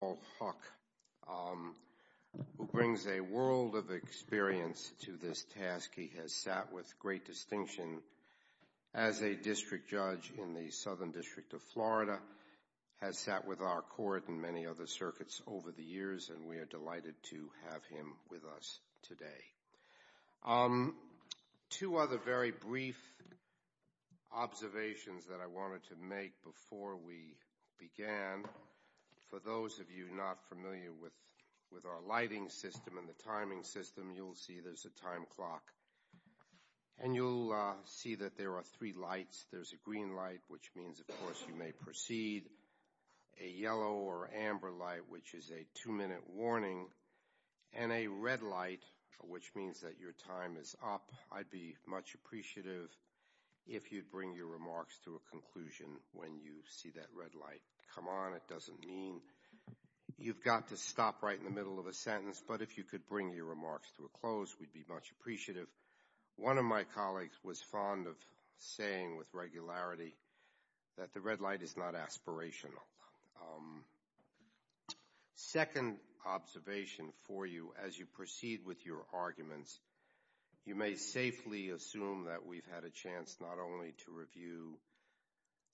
Paul Huck, who brings a world of experience to this task. He has sat with great distinction as a district judge in the Southern District of Florida, has sat with our court and many other circuits over the years, and we are delighted to have him with us today. Two other very brief observations that I wanted to make before we began. For those of you not familiar with our lighting system and the timing system, you'll see there's a time clock, and you'll see that there are three lights. There's a green light, which means, of course, you may proceed, a yellow or amber light, which is a two-minute warning, and a red light, which means that your time is up. I'd be much appreciative if you'd bring your remarks to a conclusion when you see that red light come on. It doesn't mean you've got to stop right in the middle of a sentence, but if you could bring your remarks to a close, we'd be much appreciative. One of my colleagues was fond of saying with regularity that the second observation for you as you proceed with your arguments, you may safely assume that we've had a chance not only to review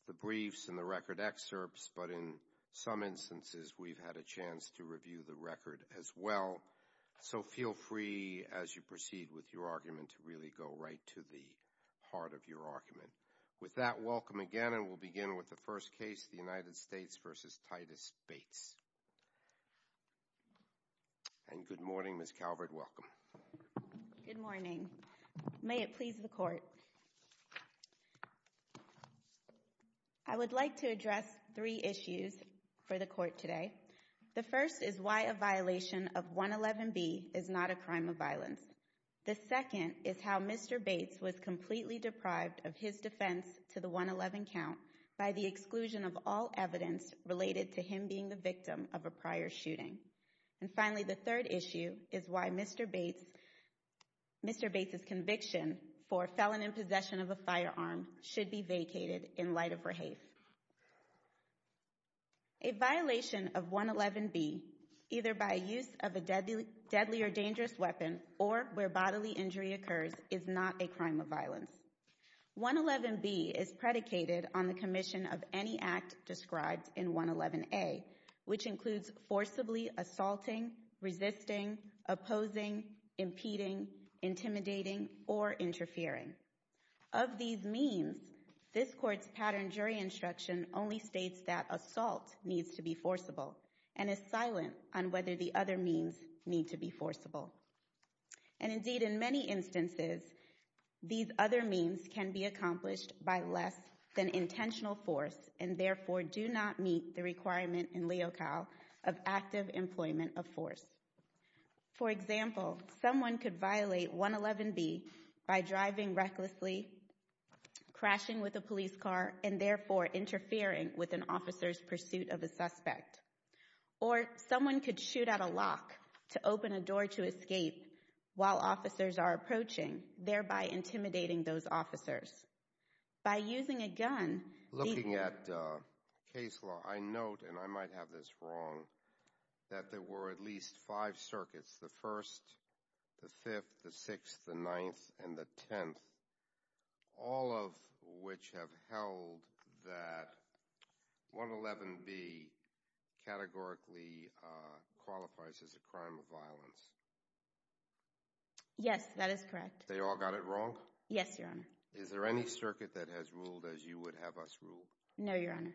the briefs and the record excerpts, but in some instances, we've had a chance to review the record as well. So feel free as you proceed with your argument to really go right to the heart of your argument. With that, welcome again, and we'll begin with the first case, the United States v. Titus Bates. And good morning, Ms. Calvert, welcome. Good morning. May it please the Court. I would like to address three issues for the Court today. The first is why a violation of 111B is not a crime of violence. The second is how Mr. Bates was completely deprived of his defense to the 111 count by the exclusion of all evidence related to him being the victim of a prior shooting. And finally, the third issue is why Mr. Bates' conviction for felon in possession of a firearm should be vacated in light of rehafe. A violation of 111B, either by use of a deadly or dangerous weapon or where bodily injury occurs, is not a crime of violence. 111B is predicated on the commission of any act described in 111A, which includes forcibly assaulting, resisting, opposing, impeding, intimidating, or interfering. Of these means, this Court's pattern jury instruction only states that assault needs to be forcible and is silent on whether the other means need to be forcible. And indeed, in many instances, these other means can be accomplished by less than intentional force and therefore do not meet the requirement in Leocal of active employment of force. For example, someone could violate 111B by driving recklessly, crashing with a police car, and therefore interfering with an officer's pursuit of a suspect. Or someone could shoot at a lock to open a door to escape while officers are approaching, thereby intimidating those officers. By using a gun... Looking at case law, I note, and I might have this wrong, that there were at least five circuits, the 1st, the 5th, the 6th, the 9th, and the 10th, all of which have held that 111B categorically qualifies as a crime of violence. Yes, that is correct. They all got it wrong? Yes, Your Honor. Is there any circuit that has ruled as you would have us rule? No, Your Honor.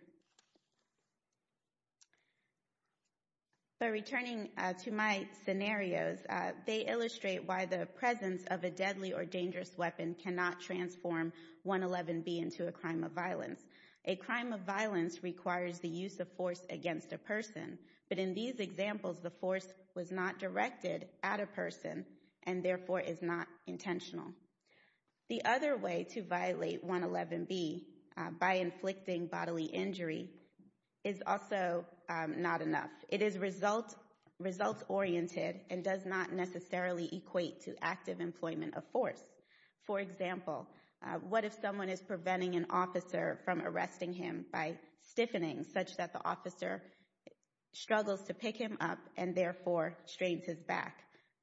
But returning to my scenarios, they illustrate why the presence of a deadly or dangerous weapon cannot transform 111B into a crime of violence. A crime of violence requires the use of force against a person, but in these examples, the force was not directed at a person and therefore is not intentional. The other way to violate 111B by inflicting bodily injury is also not enough. It is result-oriented and does not necessarily equate to active employment of force. For example, what if someone is preventing an officer from arresting him by stiffening such that the officer struggles to pick him up and therefore strains his back?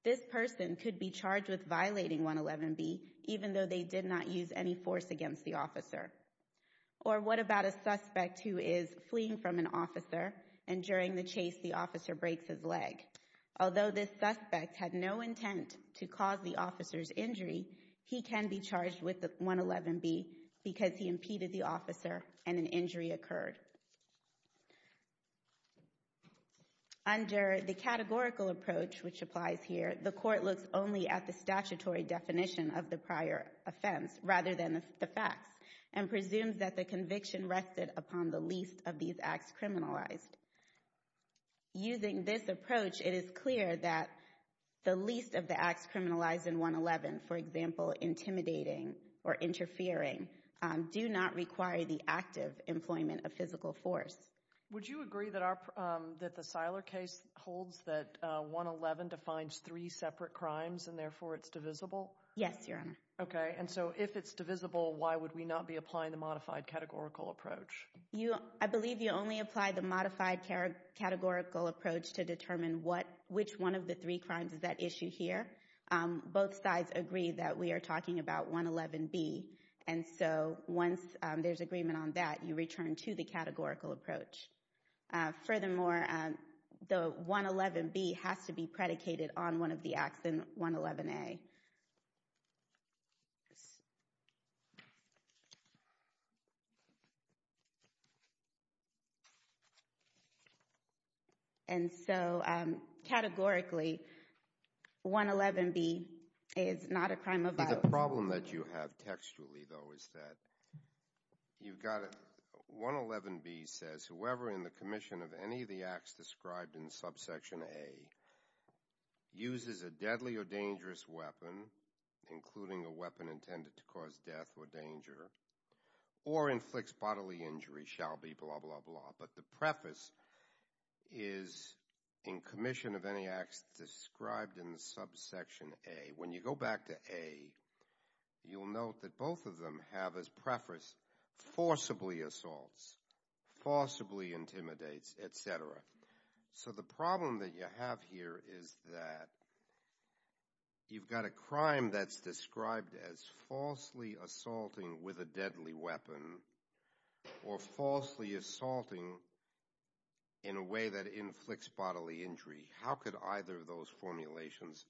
This person could be charged with violating 111B even though they did not use any force against the officer. Or what about a suspect who is fleeing from an officer and during the chase the officer breaks his leg? Although this suspect had no intent to cause the officer's injury, he can be charged with 111B because he impeded the officer and an injury occurred. Under the categorical approach which applies here, the court looks only at the statutory definition of the prior offense rather than the facts and presumes that the conviction rested upon the least of these acts criminalized. Using this approach, it is clear that the least of the 111, for example, intimidating or interfering, do not require the active employment of physical force. Would you agree that the Siler case holds that 111 defines three separate crimes and therefore it's divisible? Yes, Your Honor. Okay. And so if it's divisible, why would we not be applying the modified categorical approach? I believe you only apply the modified categorical approach to determine which one of the three crimes is at issue here. Both sides agree that we are talking about 111B and so once there's agreement on that, you return to the categorical approach. Furthermore, the 111B has to be predicated on one of the acts in 111A. And so categorically, 111B is not a crime of oath. The problem that you have textually though is that you've got 111B says whoever in the uses a deadly or dangerous weapon, including a weapon intended to cause death or danger, or inflicts bodily injury shall be blah, blah, blah. But the preface is in commission of any acts described in the subsection A. When you go back to A, you'll note that both of them have as preface forcibly assaults, forcibly intimidates, etc. So the problem that you have here is that you've got a crime that's described as falsely assaulting with a deadly weapon or falsely assaulting in a way that inflicts bodily injury. How could either of those formulations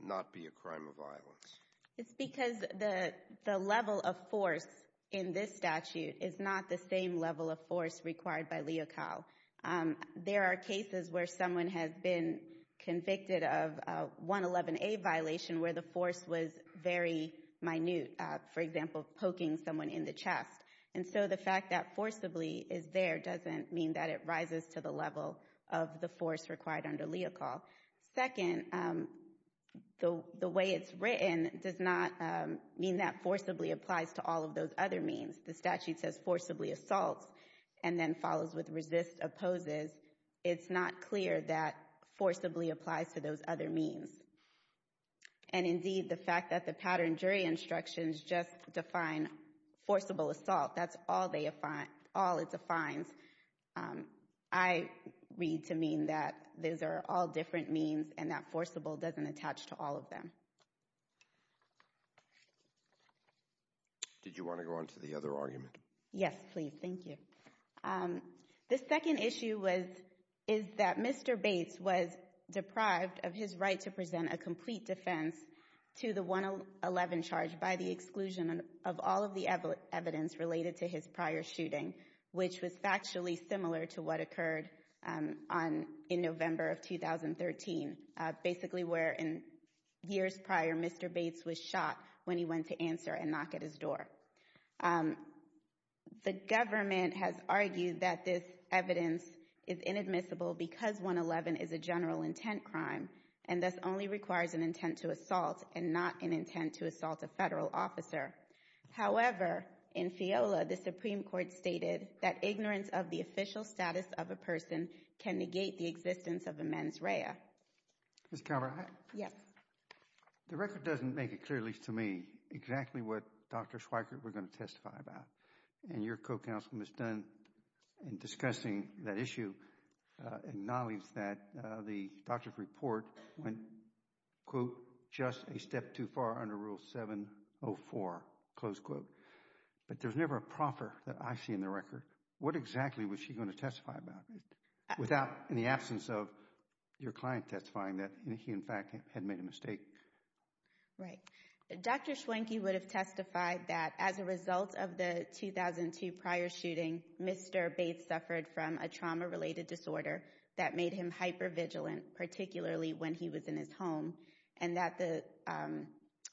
not be a crime of violence? It's because the level of force in this statute is not the same level of force required by Leocal. There are cases where someone has been convicted of a 111A violation where the force was very minute, for example, poking someone in the chest. And so the fact that forcibly is there doesn't mean that it rises to the level of the force required under Leocal. Second, the way it's written does not mean that forcibly applies to all of those other means. The statute says forcibly assaults and then follows with resist, opposes. It's not clear that forcibly applies to those other means. And indeed, the fact that the pattern jury instructions just define forcible assault, that's all it defines, I read to mean that those are all different means and that forcible doesn't to all of them. Did you want to go on to the other argument? Yes, please. Thank you. The second issue is that Mr. Bates was deprived of his right to present a complete defense to the 111 charge by the exclusion of all of the evidence related to his prior shooting, which was factually similar to what occurred in November of 2013, basically where in years prior, Mr. Bates was shot when he went to answer and knock at his door. The government has argued that this evidence is inadmissible because 111 is a general intent crime and thus only requires an intent to assault and not an intent to assault a federal officer. However, in FIOLA, the Supreme Court stated that ignorance of the official status of a person can negate the existence of a mens rea. Ms. Calvert, the record doesn't make it clear, at least to me, exactly what Dr. Schweikert was going to testify about and your co-counsel Ms. Dunn in discussing that issue acknowledged that the doctor's report went, quote, just a step too far under rule 704, close quote, but there's never a proffer that I see in the record. What exactly was she going to testify without in the absence of your client testifying that he, in fact, had made a mistake? Right. Dr. Schweikert would have testified that as a result of the 2002 prior shooting, Mr. Bates suffered from a trauma-related disorder that made him hypervigilant, particularly when he was in his home, and that the,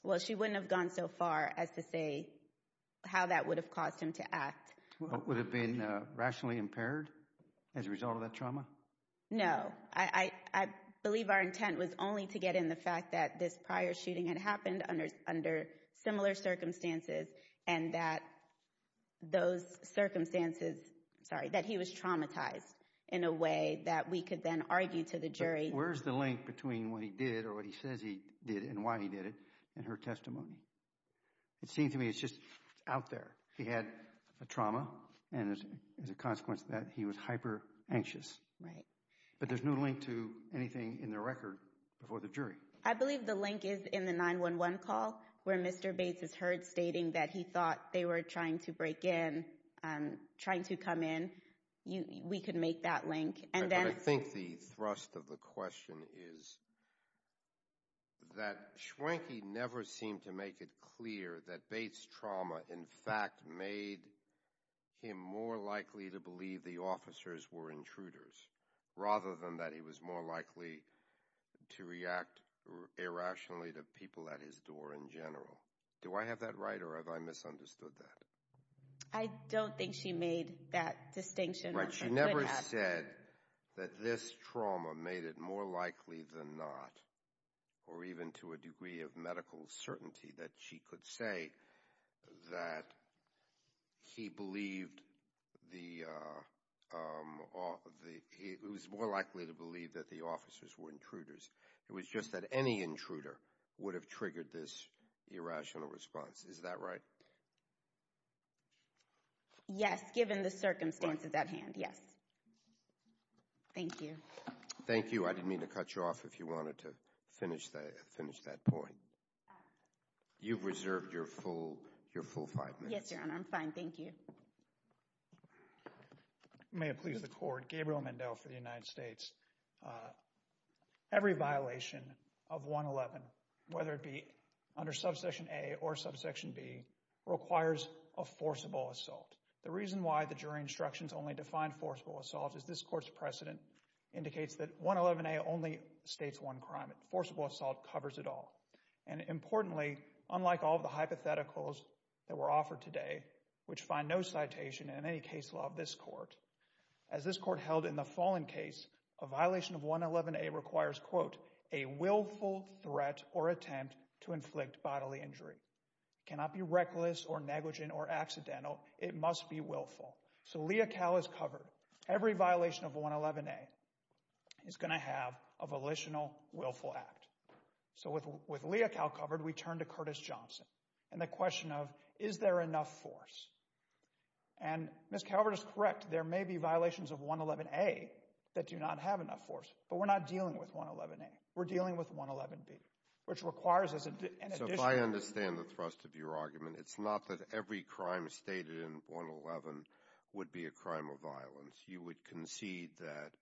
well, she wouldn't have gone so far as to say how that would have caused him to act. Would it have been rationally impaired as a result of that trauma? No. I believe our intent was only to get in the fact that this prior shooting had happened under similar circumstances and that those circumstances, sorry, that he was traumatized in a way that we could then argue to the jury. Where's the link between what he did or what he says he did and why he did it in her testimony? It seems to me it's just out there. He had a trauma, and as a consequence of that, he was hyper-anxious. Right. But there's no link to anything in the record before the jury. I believe the link is in the 911 call where Mr. Bates is heard stating that he thought they were trying to break in, trying to come in. We could make that link. I think the thrust of the question is that Schwenke never seemed to make it clear that Bates' trauma, in fact, made him more likely to believe the officers were intruders, rather than that he was more likely to react irrationally to people at his door in general. Do I have that right, or have I misunderstood that? I don't think she made that distinction. She never said that this trauma made it more likely than not, or even to a degree of medical certainty that she could say that he was more likely to believe that the officers were intruders. It was just that any intruder would have triggered this irrational response. Is that right? Yes, given the circumstances at hand. Yes. Thank you. Thank you. I didn't mean to cut you off if you wanted to finish that point. You've reserved your full five minutes. Yes, Your Honor. I'm fine. Thank you. May it please the Court. Gabriel Mendel for the United States. I'm going to go ahead and get started. Every violation of 111, whether it be under subsection A or subsection B, requires a forcible assault. The reason why the jury instructions only define forcible assault is this Court's precedent indicates that 111A only states one crime. Forcible assault covers it all. Importantly, unlike all of the hypotheticals that were offered today, which find no citation in any case law of this Court, as this Court held in the Fallen case, a violation of 111A requires, quote, a willful threat or attempt to inflict bodily injury. It cannot be reckless or negligent or accidental. It must be willful. So Leocal is covered. Every violation of 111A is going to have a volitional willful act. So with Leocal covered, we turn to Curtis Johnson and the question of, is there enough force? And Ms. Calvert is correct. There may be violations of 111A that do not have enough force, but we're not dealing with 111A. We're dealing with 111B, which requires an additional... So if I understand the thrust of your argument, it's not that every crime stated in 111 would be a crime of violence. You would concede that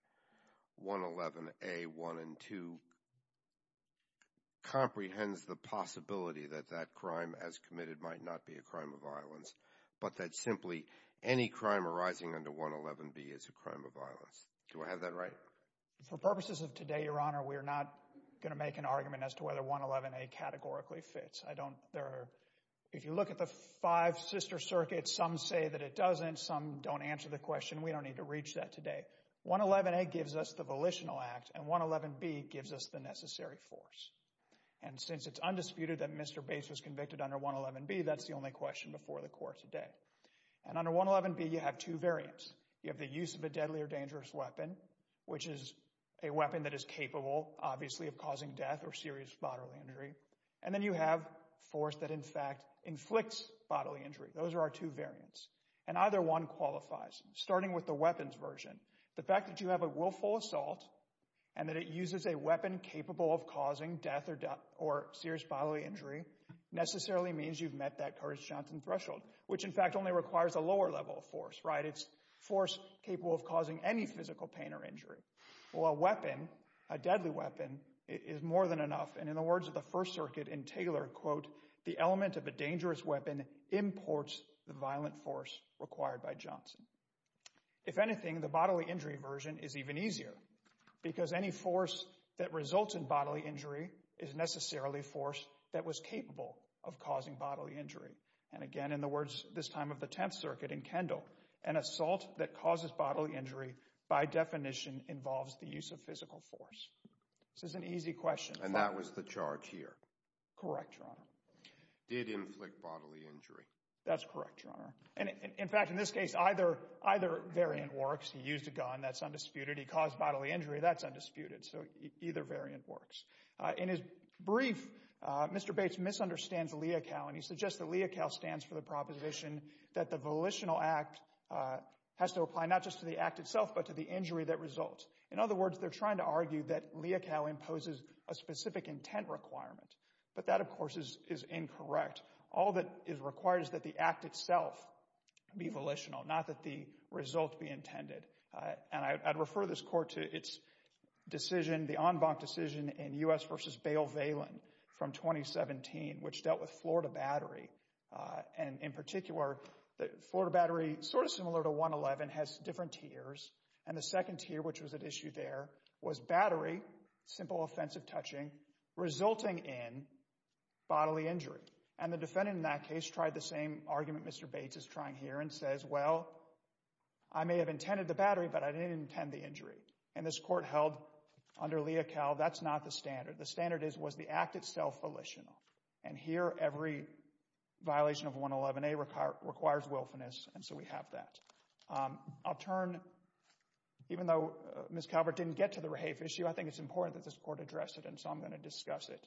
violence, but that simply any crime arising under 111B is a crime of violence. Do I have that right? For purposes of today, Your Honor, we're not going to make an argument as to whether 111A categorically fits. I don't... If you look at the five sister circuits, some say that it doesn't, some don't answer the question. We don't need to reach that today. 111A gives us the volitional act and 111B gives us the necessary force. And since it's undisputed that Mr. Bates was convicted under 111B, that's the only question before the court today. And under 111B, you have two variants. You have the use of a deadly or dangerous weapon, which is a weapon that is capable, obviously, of causing death or serious bodily injury. And then you have force that, in fact, inflicts bodily injury. Those are our two variants. And either one qualifies. Starting with the weapons version, the fact that you have a willful assault and that it uses a weapon capable of causing death or serious bodily injury necessarily means you've met that Curtis Johnson threshold, which, in fact, only requires a lower level of force, right? It's force capable of causing any physical pain or injury. Well, a weapon, a deadly weapon, is more than enough. And in the words of the First Circuit in Taylor, quote, the element of a dangerous weapon imports the violent force required by Johnson. If anything, the bodily injury version is even easier because any force that results in that was capable of causing bodily injury. And again, in the words this time of the Tenth Circuit in Kendall, an assault that causes bodily injury by definition involves the use of physical force. This is an easy question. And that was the charge here. Correct, Your Honor. Did inflict bodily injury. That's correct, Your Honor. And in fact, in this case, either variant works. He used a gun. That's undisputed. He caused bodily injury. That's undisputed. So either variant works. In his brief, Mr. Bates misunderstands LEOCAL, and he suggests that LEOCAL stands for the proposition that the volitional act has to apply not just to the act itself, but to the injury that results. In other words, they're trying to argue that LEOCAL imposes a specific intent requirement. But that, of course, is incorrect. All that is required is that the act itself be volitional, not that the result be intended. And I'd refer this Court to its decision, the en banc decision in U.S. v. Bale-Valin from 2017, which dealt with Florida Battery. And in particular, Florida Battery, sort of similar to 111, has different tiers. And the second tier, which was at issue there, was Battery, simple offensive touching, resulting in bodily injury. And the defendant in that case tried the same argument Mr. Bates is trying here and says, well, I may have intended the battery, but I didn't intend the injury. And this Court held under LEOCAL, that's not the standard. The standard is, was the act itself volitional? And here, every violation of 111A requires willfulness, and so we have that. I'll turn, even though Ms. Calvert didn't get to the REHAFE issue, I think it's important that this Court address it, and so I'm going to discuss it.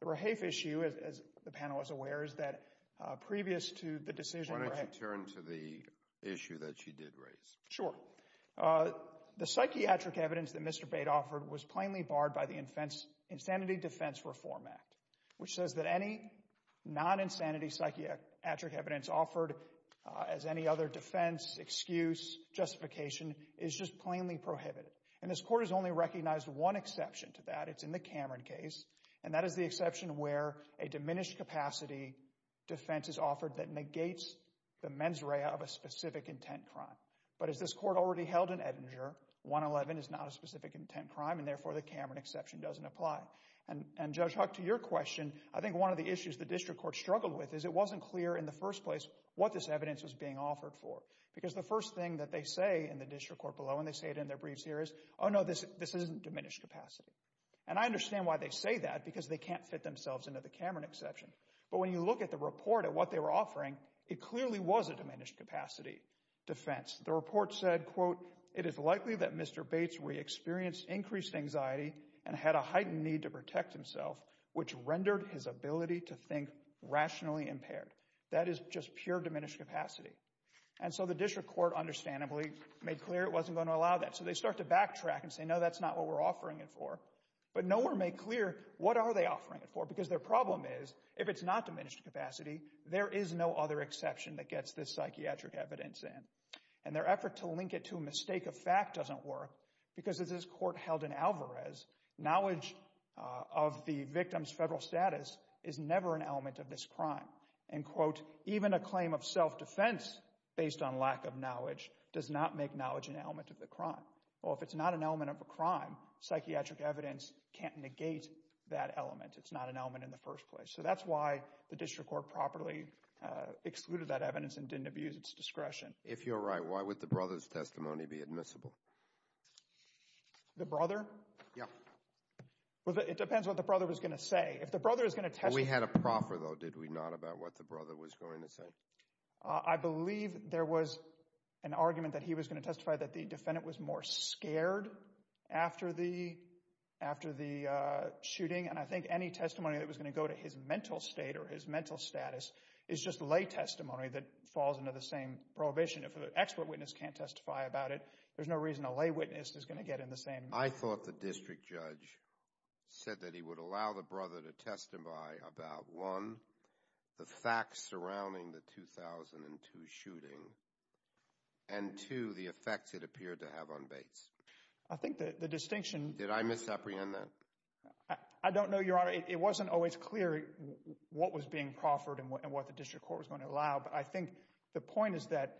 The REHAFE issue, as the panel is aware, is that previous to the decision... Why don't you turn to the issue that she did raise? Sure. The psychiatric evidence that Mr. Bates offered was plainly barred by the Insanity Defense Reform Act, which says that any non-insanity psychiatric evidence offered as any other defense, excuse, justification, is just plainly prohibited. And this Court has only recognized one exception to that. It's in the Cameron case, and that is the exception where a diminished capacity defense is offered that negates the mens rea of a specific intent crime. But as this Court already held in Edinger, 111 is not a specific intent crime, and therefore the Cameron exception doesn't apply. And Judge Huck, to your question, I think one of the issues the District Court struggled with is it wasn't clear in the first place what this evidence was being offered for, because the first thing that they say in the District Court below, and they say it in their briefs here, is, oh no, this isn't diminished capacity. And I understand why they say that, because they can't fit themselves into the Cameron exception. But when you look at the report of what they were offering, it clearly was a diminished capacity defense. The report said, quote, it is likely that Mr. Bates re-experienced increased anxiety and had a heightened need to protect himself, which rendered his ability to think rationally impaired. That is just pure diminished capacity. And so the District Court, understandably, made clear it wasn't going to allow that. So they start to backtrack and say, no, that's not what we're offering it for. But no one made clear what are they offering it for, because their problem is, if it's not diminished capacity, there is no other exception that gets this psychiatric evidence in. And their effort to link it to a mistake of fact doesn't work, because as this Court held in Alvarez, knowledge of the victim's federal status is never an element of this crime. And, quote, even a claim of self-defense based on lack of knowledge does not make knowledge an element of the crime. Well, if it's not an element of a crime, psychiatric evidence can't negate that element. It's not an element in the first place. So that's why the District Court properly excluded that evidence and didn't abuse its discretion. If you're right, why would the brother's testimony be admissible? The brother? Yeah. It depends what the brother was going to say. If the brother is going to testify— We had a proffer, though, did we not, about what the brother was going to say? I believe there was an argument that he was going to testify that the defendant was more scared after the shooting. And I think any testimony that was going to go to his mental state or his mental status is just lay testimony that falls into the same prohibition. If an expert witness can't testify about it, there's no reason a lay witness is going to get in the same— I thought the District Judge said that he would allow the brother to testify about, one, the facts surrounding the 2002 shooting, and two, the effects it appeared to have on Bates. I think the distinction— Did I misapprehend that? I don't know, Your Honor. It wasn't always clear what was being proffered and what the District Court was going to allow. But I think the point is that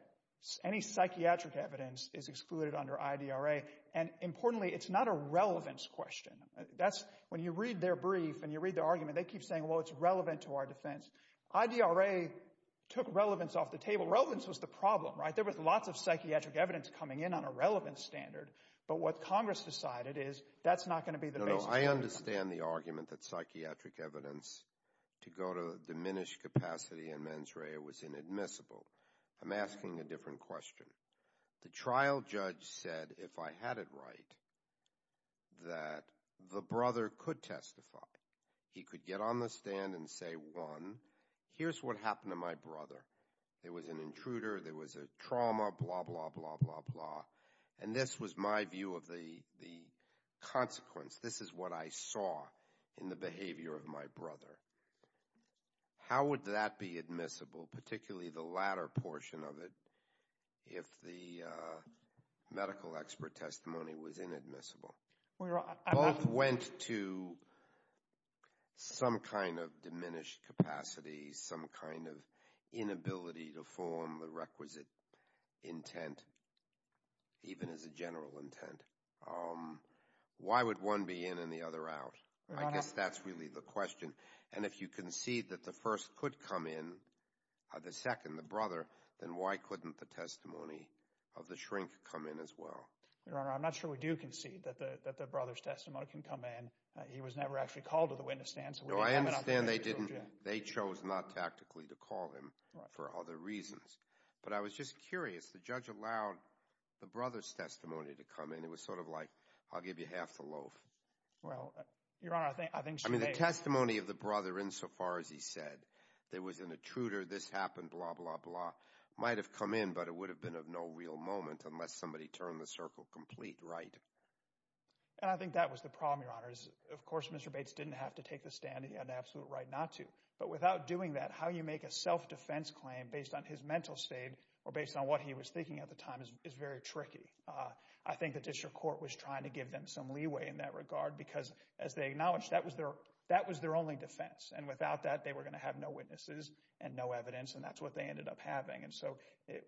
any psychiatric evidence is excluded under IDRA. And importantly, it's not a relevance question. That's—when you read their brief and you read the argument, they keep saying, well, it's relevant to our defense. IDRA took relevance off the table. Relevance was the problem, right? There was lots of psychiatric evidence coming in on a relevance standard. But what Congress decided is that's not going to be the basis of— No, no. I understand the argument that psychiatric evidence to go to diminished capacity in mens rea was inadmissible. I'm asking a different question. The trial judge said, if I had it right, that the brother could testify. He could get on the stand and say, one, here's what happened to my brother. There was an intruder. There was a trauma, blah, blah, blah, blah, blah. And this was my view of the consequence. This is what I saw in the behavior of my brother. How would that be admissible, particularly the latter portion of it, if the medical expert testimony was inadmissible? Both went to some kind of diminished capacity, some kind of inability to form the requisite intent, even as a general intent. Why would one be in and the other out? I guess that's really the question. And if you concede that the first could come in, the second, the brother, then why couldn't the testimony of the shrink come in as well? Your Honor, I'm not sure we do concede that the brother's testimony can come in. He was never actually called to the witness stand. No, I understand they didn't. They chose not tactically to call him for other reasons. But I was just curious. The judge allowed the brother's testimony to come in. It was sort of like, I'll give you half the loaf. Well, Your Honor, I think. I mean, the testimony of the brother insofar as he said there was an intruder, this happened, blah, blah, blah, might have come in, but it would have been of no real moment unless somebody turned the circle complete right. And I think that was the problem, Your Honor. Of course, Mr. Bates didn't have to take the stand. He had an absolute right not to. But without doing that, how you make a self-defense claim based on his mental state or based on what he was thinking at the time is very tricky. I think the district court was trying to give them some leeway in that regard because, as they acknowledged, that was their that was their only defense. And without that, they were going to have no witnesses and no evidence. And that's what they ended up having. And so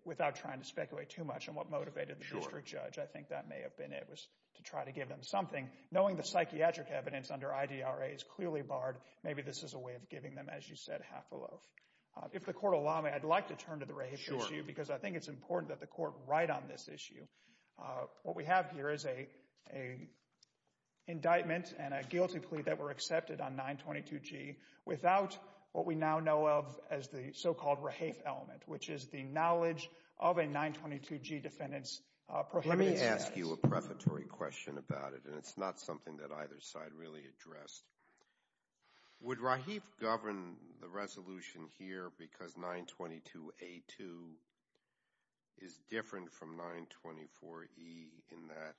without trying to speculate too much on what motivated the district judge, I think that may have been it was to try to give them something. Knowing the psychiatric evidence under IDRA is clearly barred. Maybe this is a way of giving them, as you said, half a loaf. If the court will allow me, I'd like to turn to the rehafe issue because I think it's important that the court write on this issue. What we have here is a indictment and a guilty plea that were accepted on 922G without what we now know of as the so-called rehafe element, which is the knowledge of a 922G defendant's prohibited status. Let me ask you a prefatory question about it, and it's not something that either side really addressed. Would rehafe govern the resolution here because 922A2 is different from 924E in that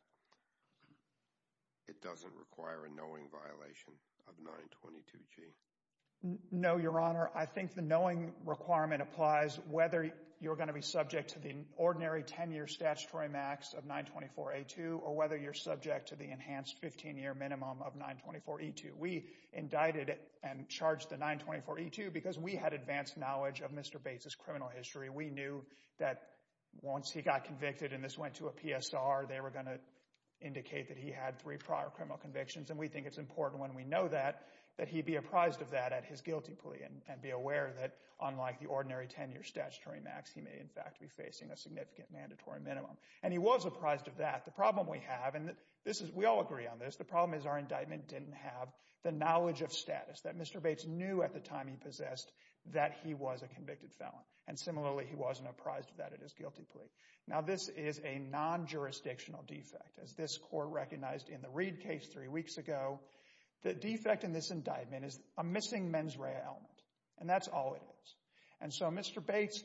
it doesn't require a knowing violation of 922G? No, Your Honor. I think the knowing requirement applies whether you're going to be subject to the ordinary 10-year statutory max of 924A2 or whether you're subject to the enhanced 15-year minimum of 924E2. We indicted and charged the 924E2 because we had advanced knowledge of Mr. Bates' criminal history. We knew that once he got convicted and this went to a PSR, they were going to indicate that he had three prior criminal convictions, and we think it's important when we know that that he be apprised of that at his guilty plea and be aware that unlike the ordinary 10-year statutory max, he may in fact be facing a significant mandatory minimum. And he was apprised of that. The problem we have, and we all agree on this, the problem is our indictment didn't have the knowledge of status that Mr. Bates knew at the time he possessed that he was a convicted felon, and similarly he wasn't apprised of that at his guilty plea. Now this is a non-jurisdictional defect. As this court recognized in the Reid case three weeks ago, the defect in this indictment is a missing mens rea element, and that's all it is. And so Mr. Bates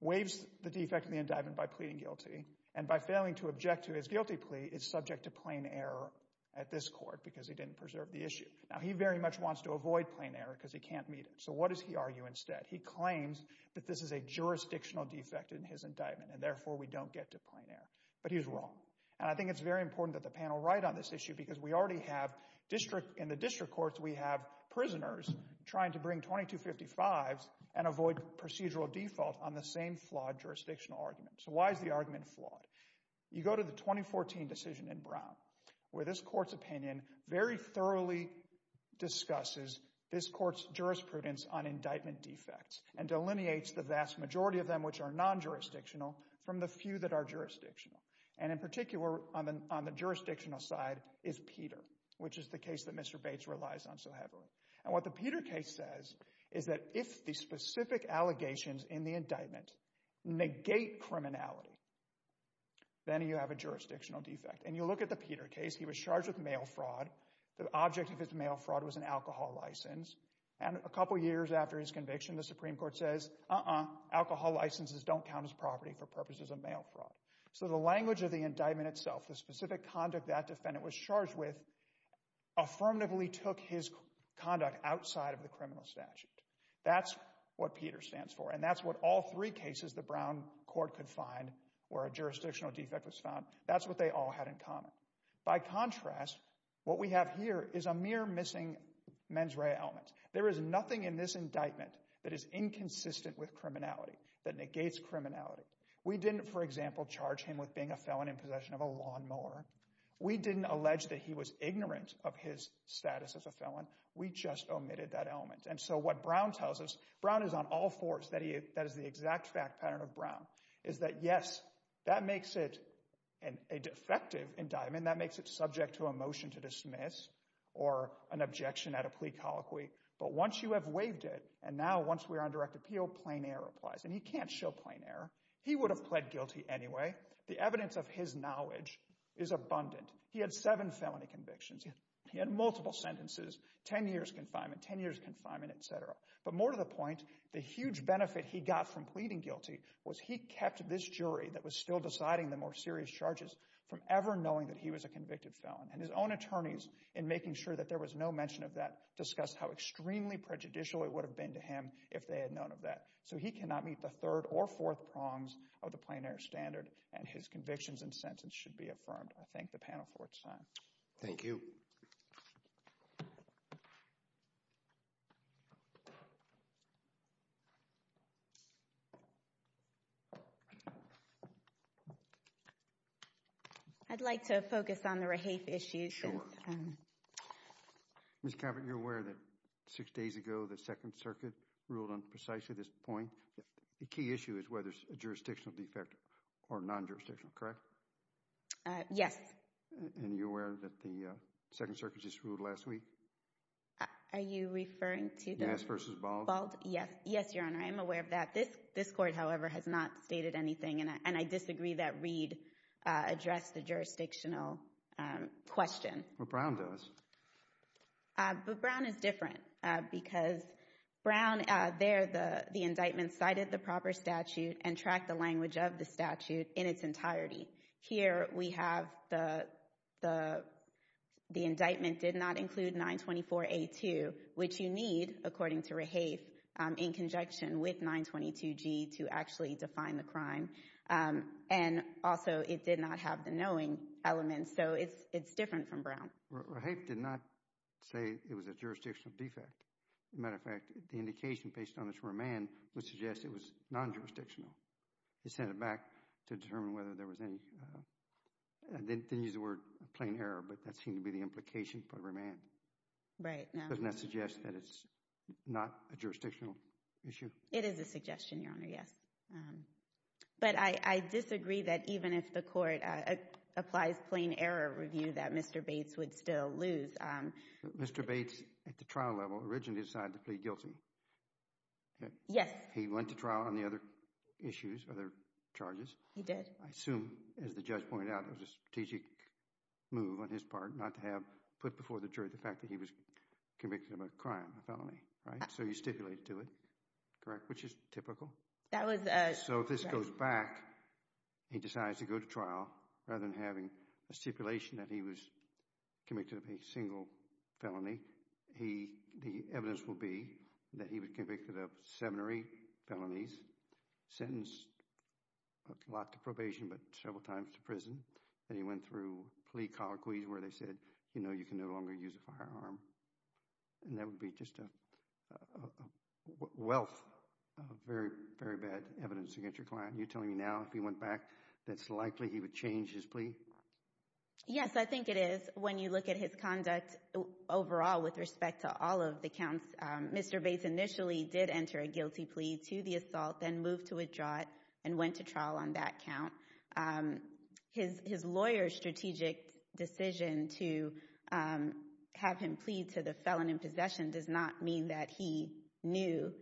waives the defect in the indictment by pleading guilty and by failing to object to his guilty plea is subject to plain error at this court because he didn't preserve the issue. Now he very much wants to avoid plain error because he can't meet it. So what does he argue instead? He claims that this is a jurisdictional defect in his indictment and therefore we don't get to plain error, but he's wrong. And I think it's very important that the panel write on this issue because we already have in the district courts we have prisoners trying to bring 2255s and avoid procedural default on the same flawed jurisdictional argument. So why is the argument flawed? You go to the 2014 decision in Brown where this court's opinion very thoroughly discusses this court's jurisprudence on indictment defects and delineates the vast majority of them which are non-jurisdictional from the few that are jurisdictional. And in particular on the jurisdictional side is Peter, which is the case that Mr. Bates relies on so heavily. And what the Peter case says is that if the specific allegations in the indictment negate criminality, then you have a case. He was charged with mail fraud. The object of his mail fraud was an alcohol license and a couple years after his conviction the Supreme Court says alcohol licenses don't count as property for purposes of mail fraud. So the language of the indictment itself, the specific conduct that defendant was charged with, affirmatively took his conduct outside of the criminal statute. That's what Peter stands for and that's what all three cases the Brown court could find or a jurisdictional defect was found. That's what they all had in common. By contrast, what we have here is a mere missing mens rea element. There is nothing in this indictment that is inconsistent with criminality, that negates criminality. We didn't, for example, charge him with being a felon in possession of a lawnmower. We didn't allege that he was ignorant of his status as a felon. We just omitted that element. And so what Brown tells us, Brown is on all fours, that is the exact fact pattern of Brown, is that yes, that makes it a defective indictment. That makes it subject to a motion to dismiss or an objection at a plea colloquy. But once you have waived it and now once we're on direct appeal, plain error applies. And he can't show plain error. He would have pled guilty anyway. The evidence of his knowledge is abundant. He had seven felony convictions. He had multiple sentences, 10 years confinement, 10 years confinement, etc. But more to the point, the huge benefit he got from pleading guilty was he kept this jury that was still deciding the more serious charges from ever knowing that he was a convicted felon. And his own attorneys, in making sure that there was no mention of that, discussed how extremely prejudicial it would have been to him if they had known of that. So he cannot meet the third or fourth prongs of the plain error standard and his convictions and sentence should be affirmed. I thank the panel for its time. Thank you. I'd like to focus on the Rahafe issue. Sure. Ms. Caput, you're aware that six days ago the Second Circuit ruled on precisely this point. The key issue is whether it's a jurisdictional defect or non-jurisdictional, correct? Yes. And you're aware that the Second Circuit just ruled last week? Are you referring to that? Yes versus Bald? Bald, yes. Yes, Your Honor, I am aware of that. This court, however, has not stated anything and I disagree that Reed addressed the jurisdictional question. Well, Brown does. But Brown is different because Brown, there the indictment cited the the the indictment did not include 924A2, which you need, according to Rahafe, in conjunction with 922G to actually define the crime. And also, it did not have the knowing element. So it's different from Brown. Rahafe did not say it was a jurisdictional defect. As a matter of fact, the indication based on this remand would suggest it was non-jurisdictional. He sent it back to I didn't use the word plain error, but that seemed to be the implication for remand. Right. Doesn't that suggest that it's not a jurisdictional issue? It is a suggestion, Your Honor, yes. But I disagree that even if the court applies plain error review that Mr. Bates would still lose. Mr. Bates, at the trial level, originally decided to plead guilty. Yes. He went to trial on the other issues, other charges. He did. I assume, as the judge pointed out, it was a strategic move on his part not to have put before the jury the fact that he was convicted of a crime, a felony. Right. So you stipulated to it. Correct. Which is typical. That was. So if this goes back, he decides to go to trial rather than having a stipulation that he was convicted of a single felony. He the evidence will be that he was convicted of seven or eight and he went through plea colloquies where they said, you know, you can no longer use a firearm and that would be just a wealth of very, very bad evidence against your client. You're telling me now if he went back, that's likely he would change his plea? Yes, I think it is. When you look at his conduct overall with respect to all of the counts, Mr. Bates initially did enter a guilty plea to the assault, then moved to withdraw it and went to trial on that count. His lawyer's strategic decision to have him plead to the felon in possession does not mean that he knew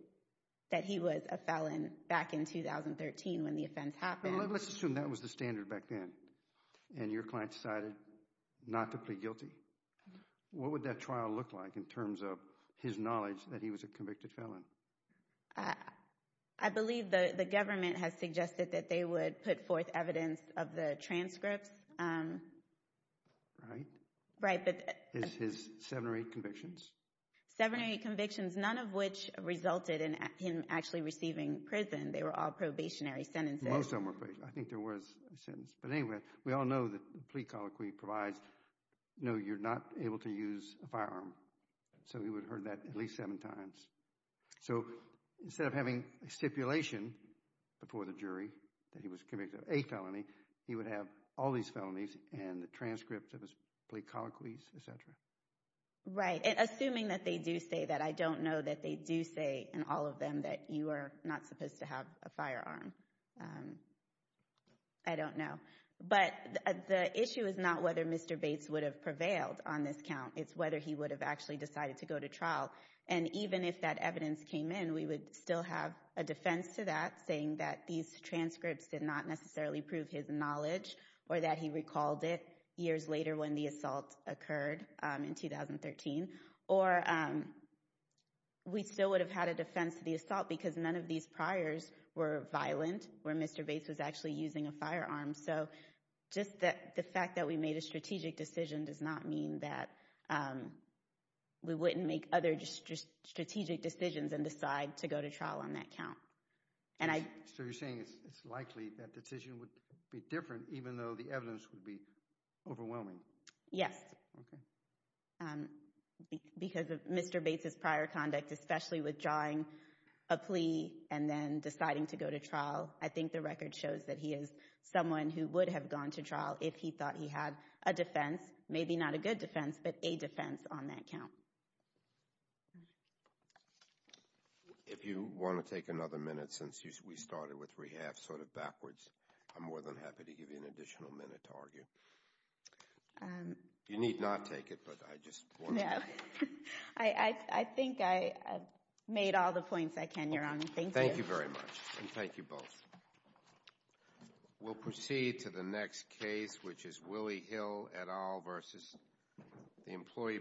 that he was a felon back in 2013 when the offense happened. Let's assume that was the standard back then and your client decided not to plead guilty. What would that trial look like in terms of his knowledge that he was a felon? I suggested that they would put forth evidence of the transcripts. Right. Is his seven or eight convictions? Seven or eight convictions, none of which resulted in him actually receiving prison. They were all probationary sentences. Most of them were. I think there was a sentence. But anyway, we all know that the plea colloquy provides, no, you're not able to use a firearm. So he would have heard that at least seven times. So instead of having a stipulation before the jury that he was convicted of a felony, he would have all these felonies and the transcripts of his plea colloquies, etc. Right. And assuming that they do say that, I don't know that they do say in all of them that you are not supposed to have a firearm. I don't know. But the issue is not whether Mr. Bates would have prevailed on this count. It's whether he would have actually decided to go to trial. And even if that evidence came in, we would still have a defense to that saying that these transcripts did not necessarily prove his knowledge or that he recalled it years later when the assault occurred in 2013. Or we still would have had a defense to the assault because none of these priors were violent where Mr. Bates was actually using a firearm. So just that the strategic decision does not mean that we wouldn't make other strategic decisions and decide to go to trial on that count. So you're saying it's likely that decision would be different even though the evidence would be overwhelming. Yes. Because of Mr. Bates' prior conduct, especially withdrawing a plea and then deciding to go to trial, I think the record shows that he is someone who would have gone to trial if he thought he had a defense, maybe not a good defense, but a defense on that count. If you want to take another minute since we started with rehab sort of backwards, I'm more than happy to give you an additional minute to argue. You need not take it, but I just want to. No. I think I made all the points I can, Your Honor. Thank you very much, and thank you both. We'll proceed to the next case, which is Willie Hill et al. v. The Employee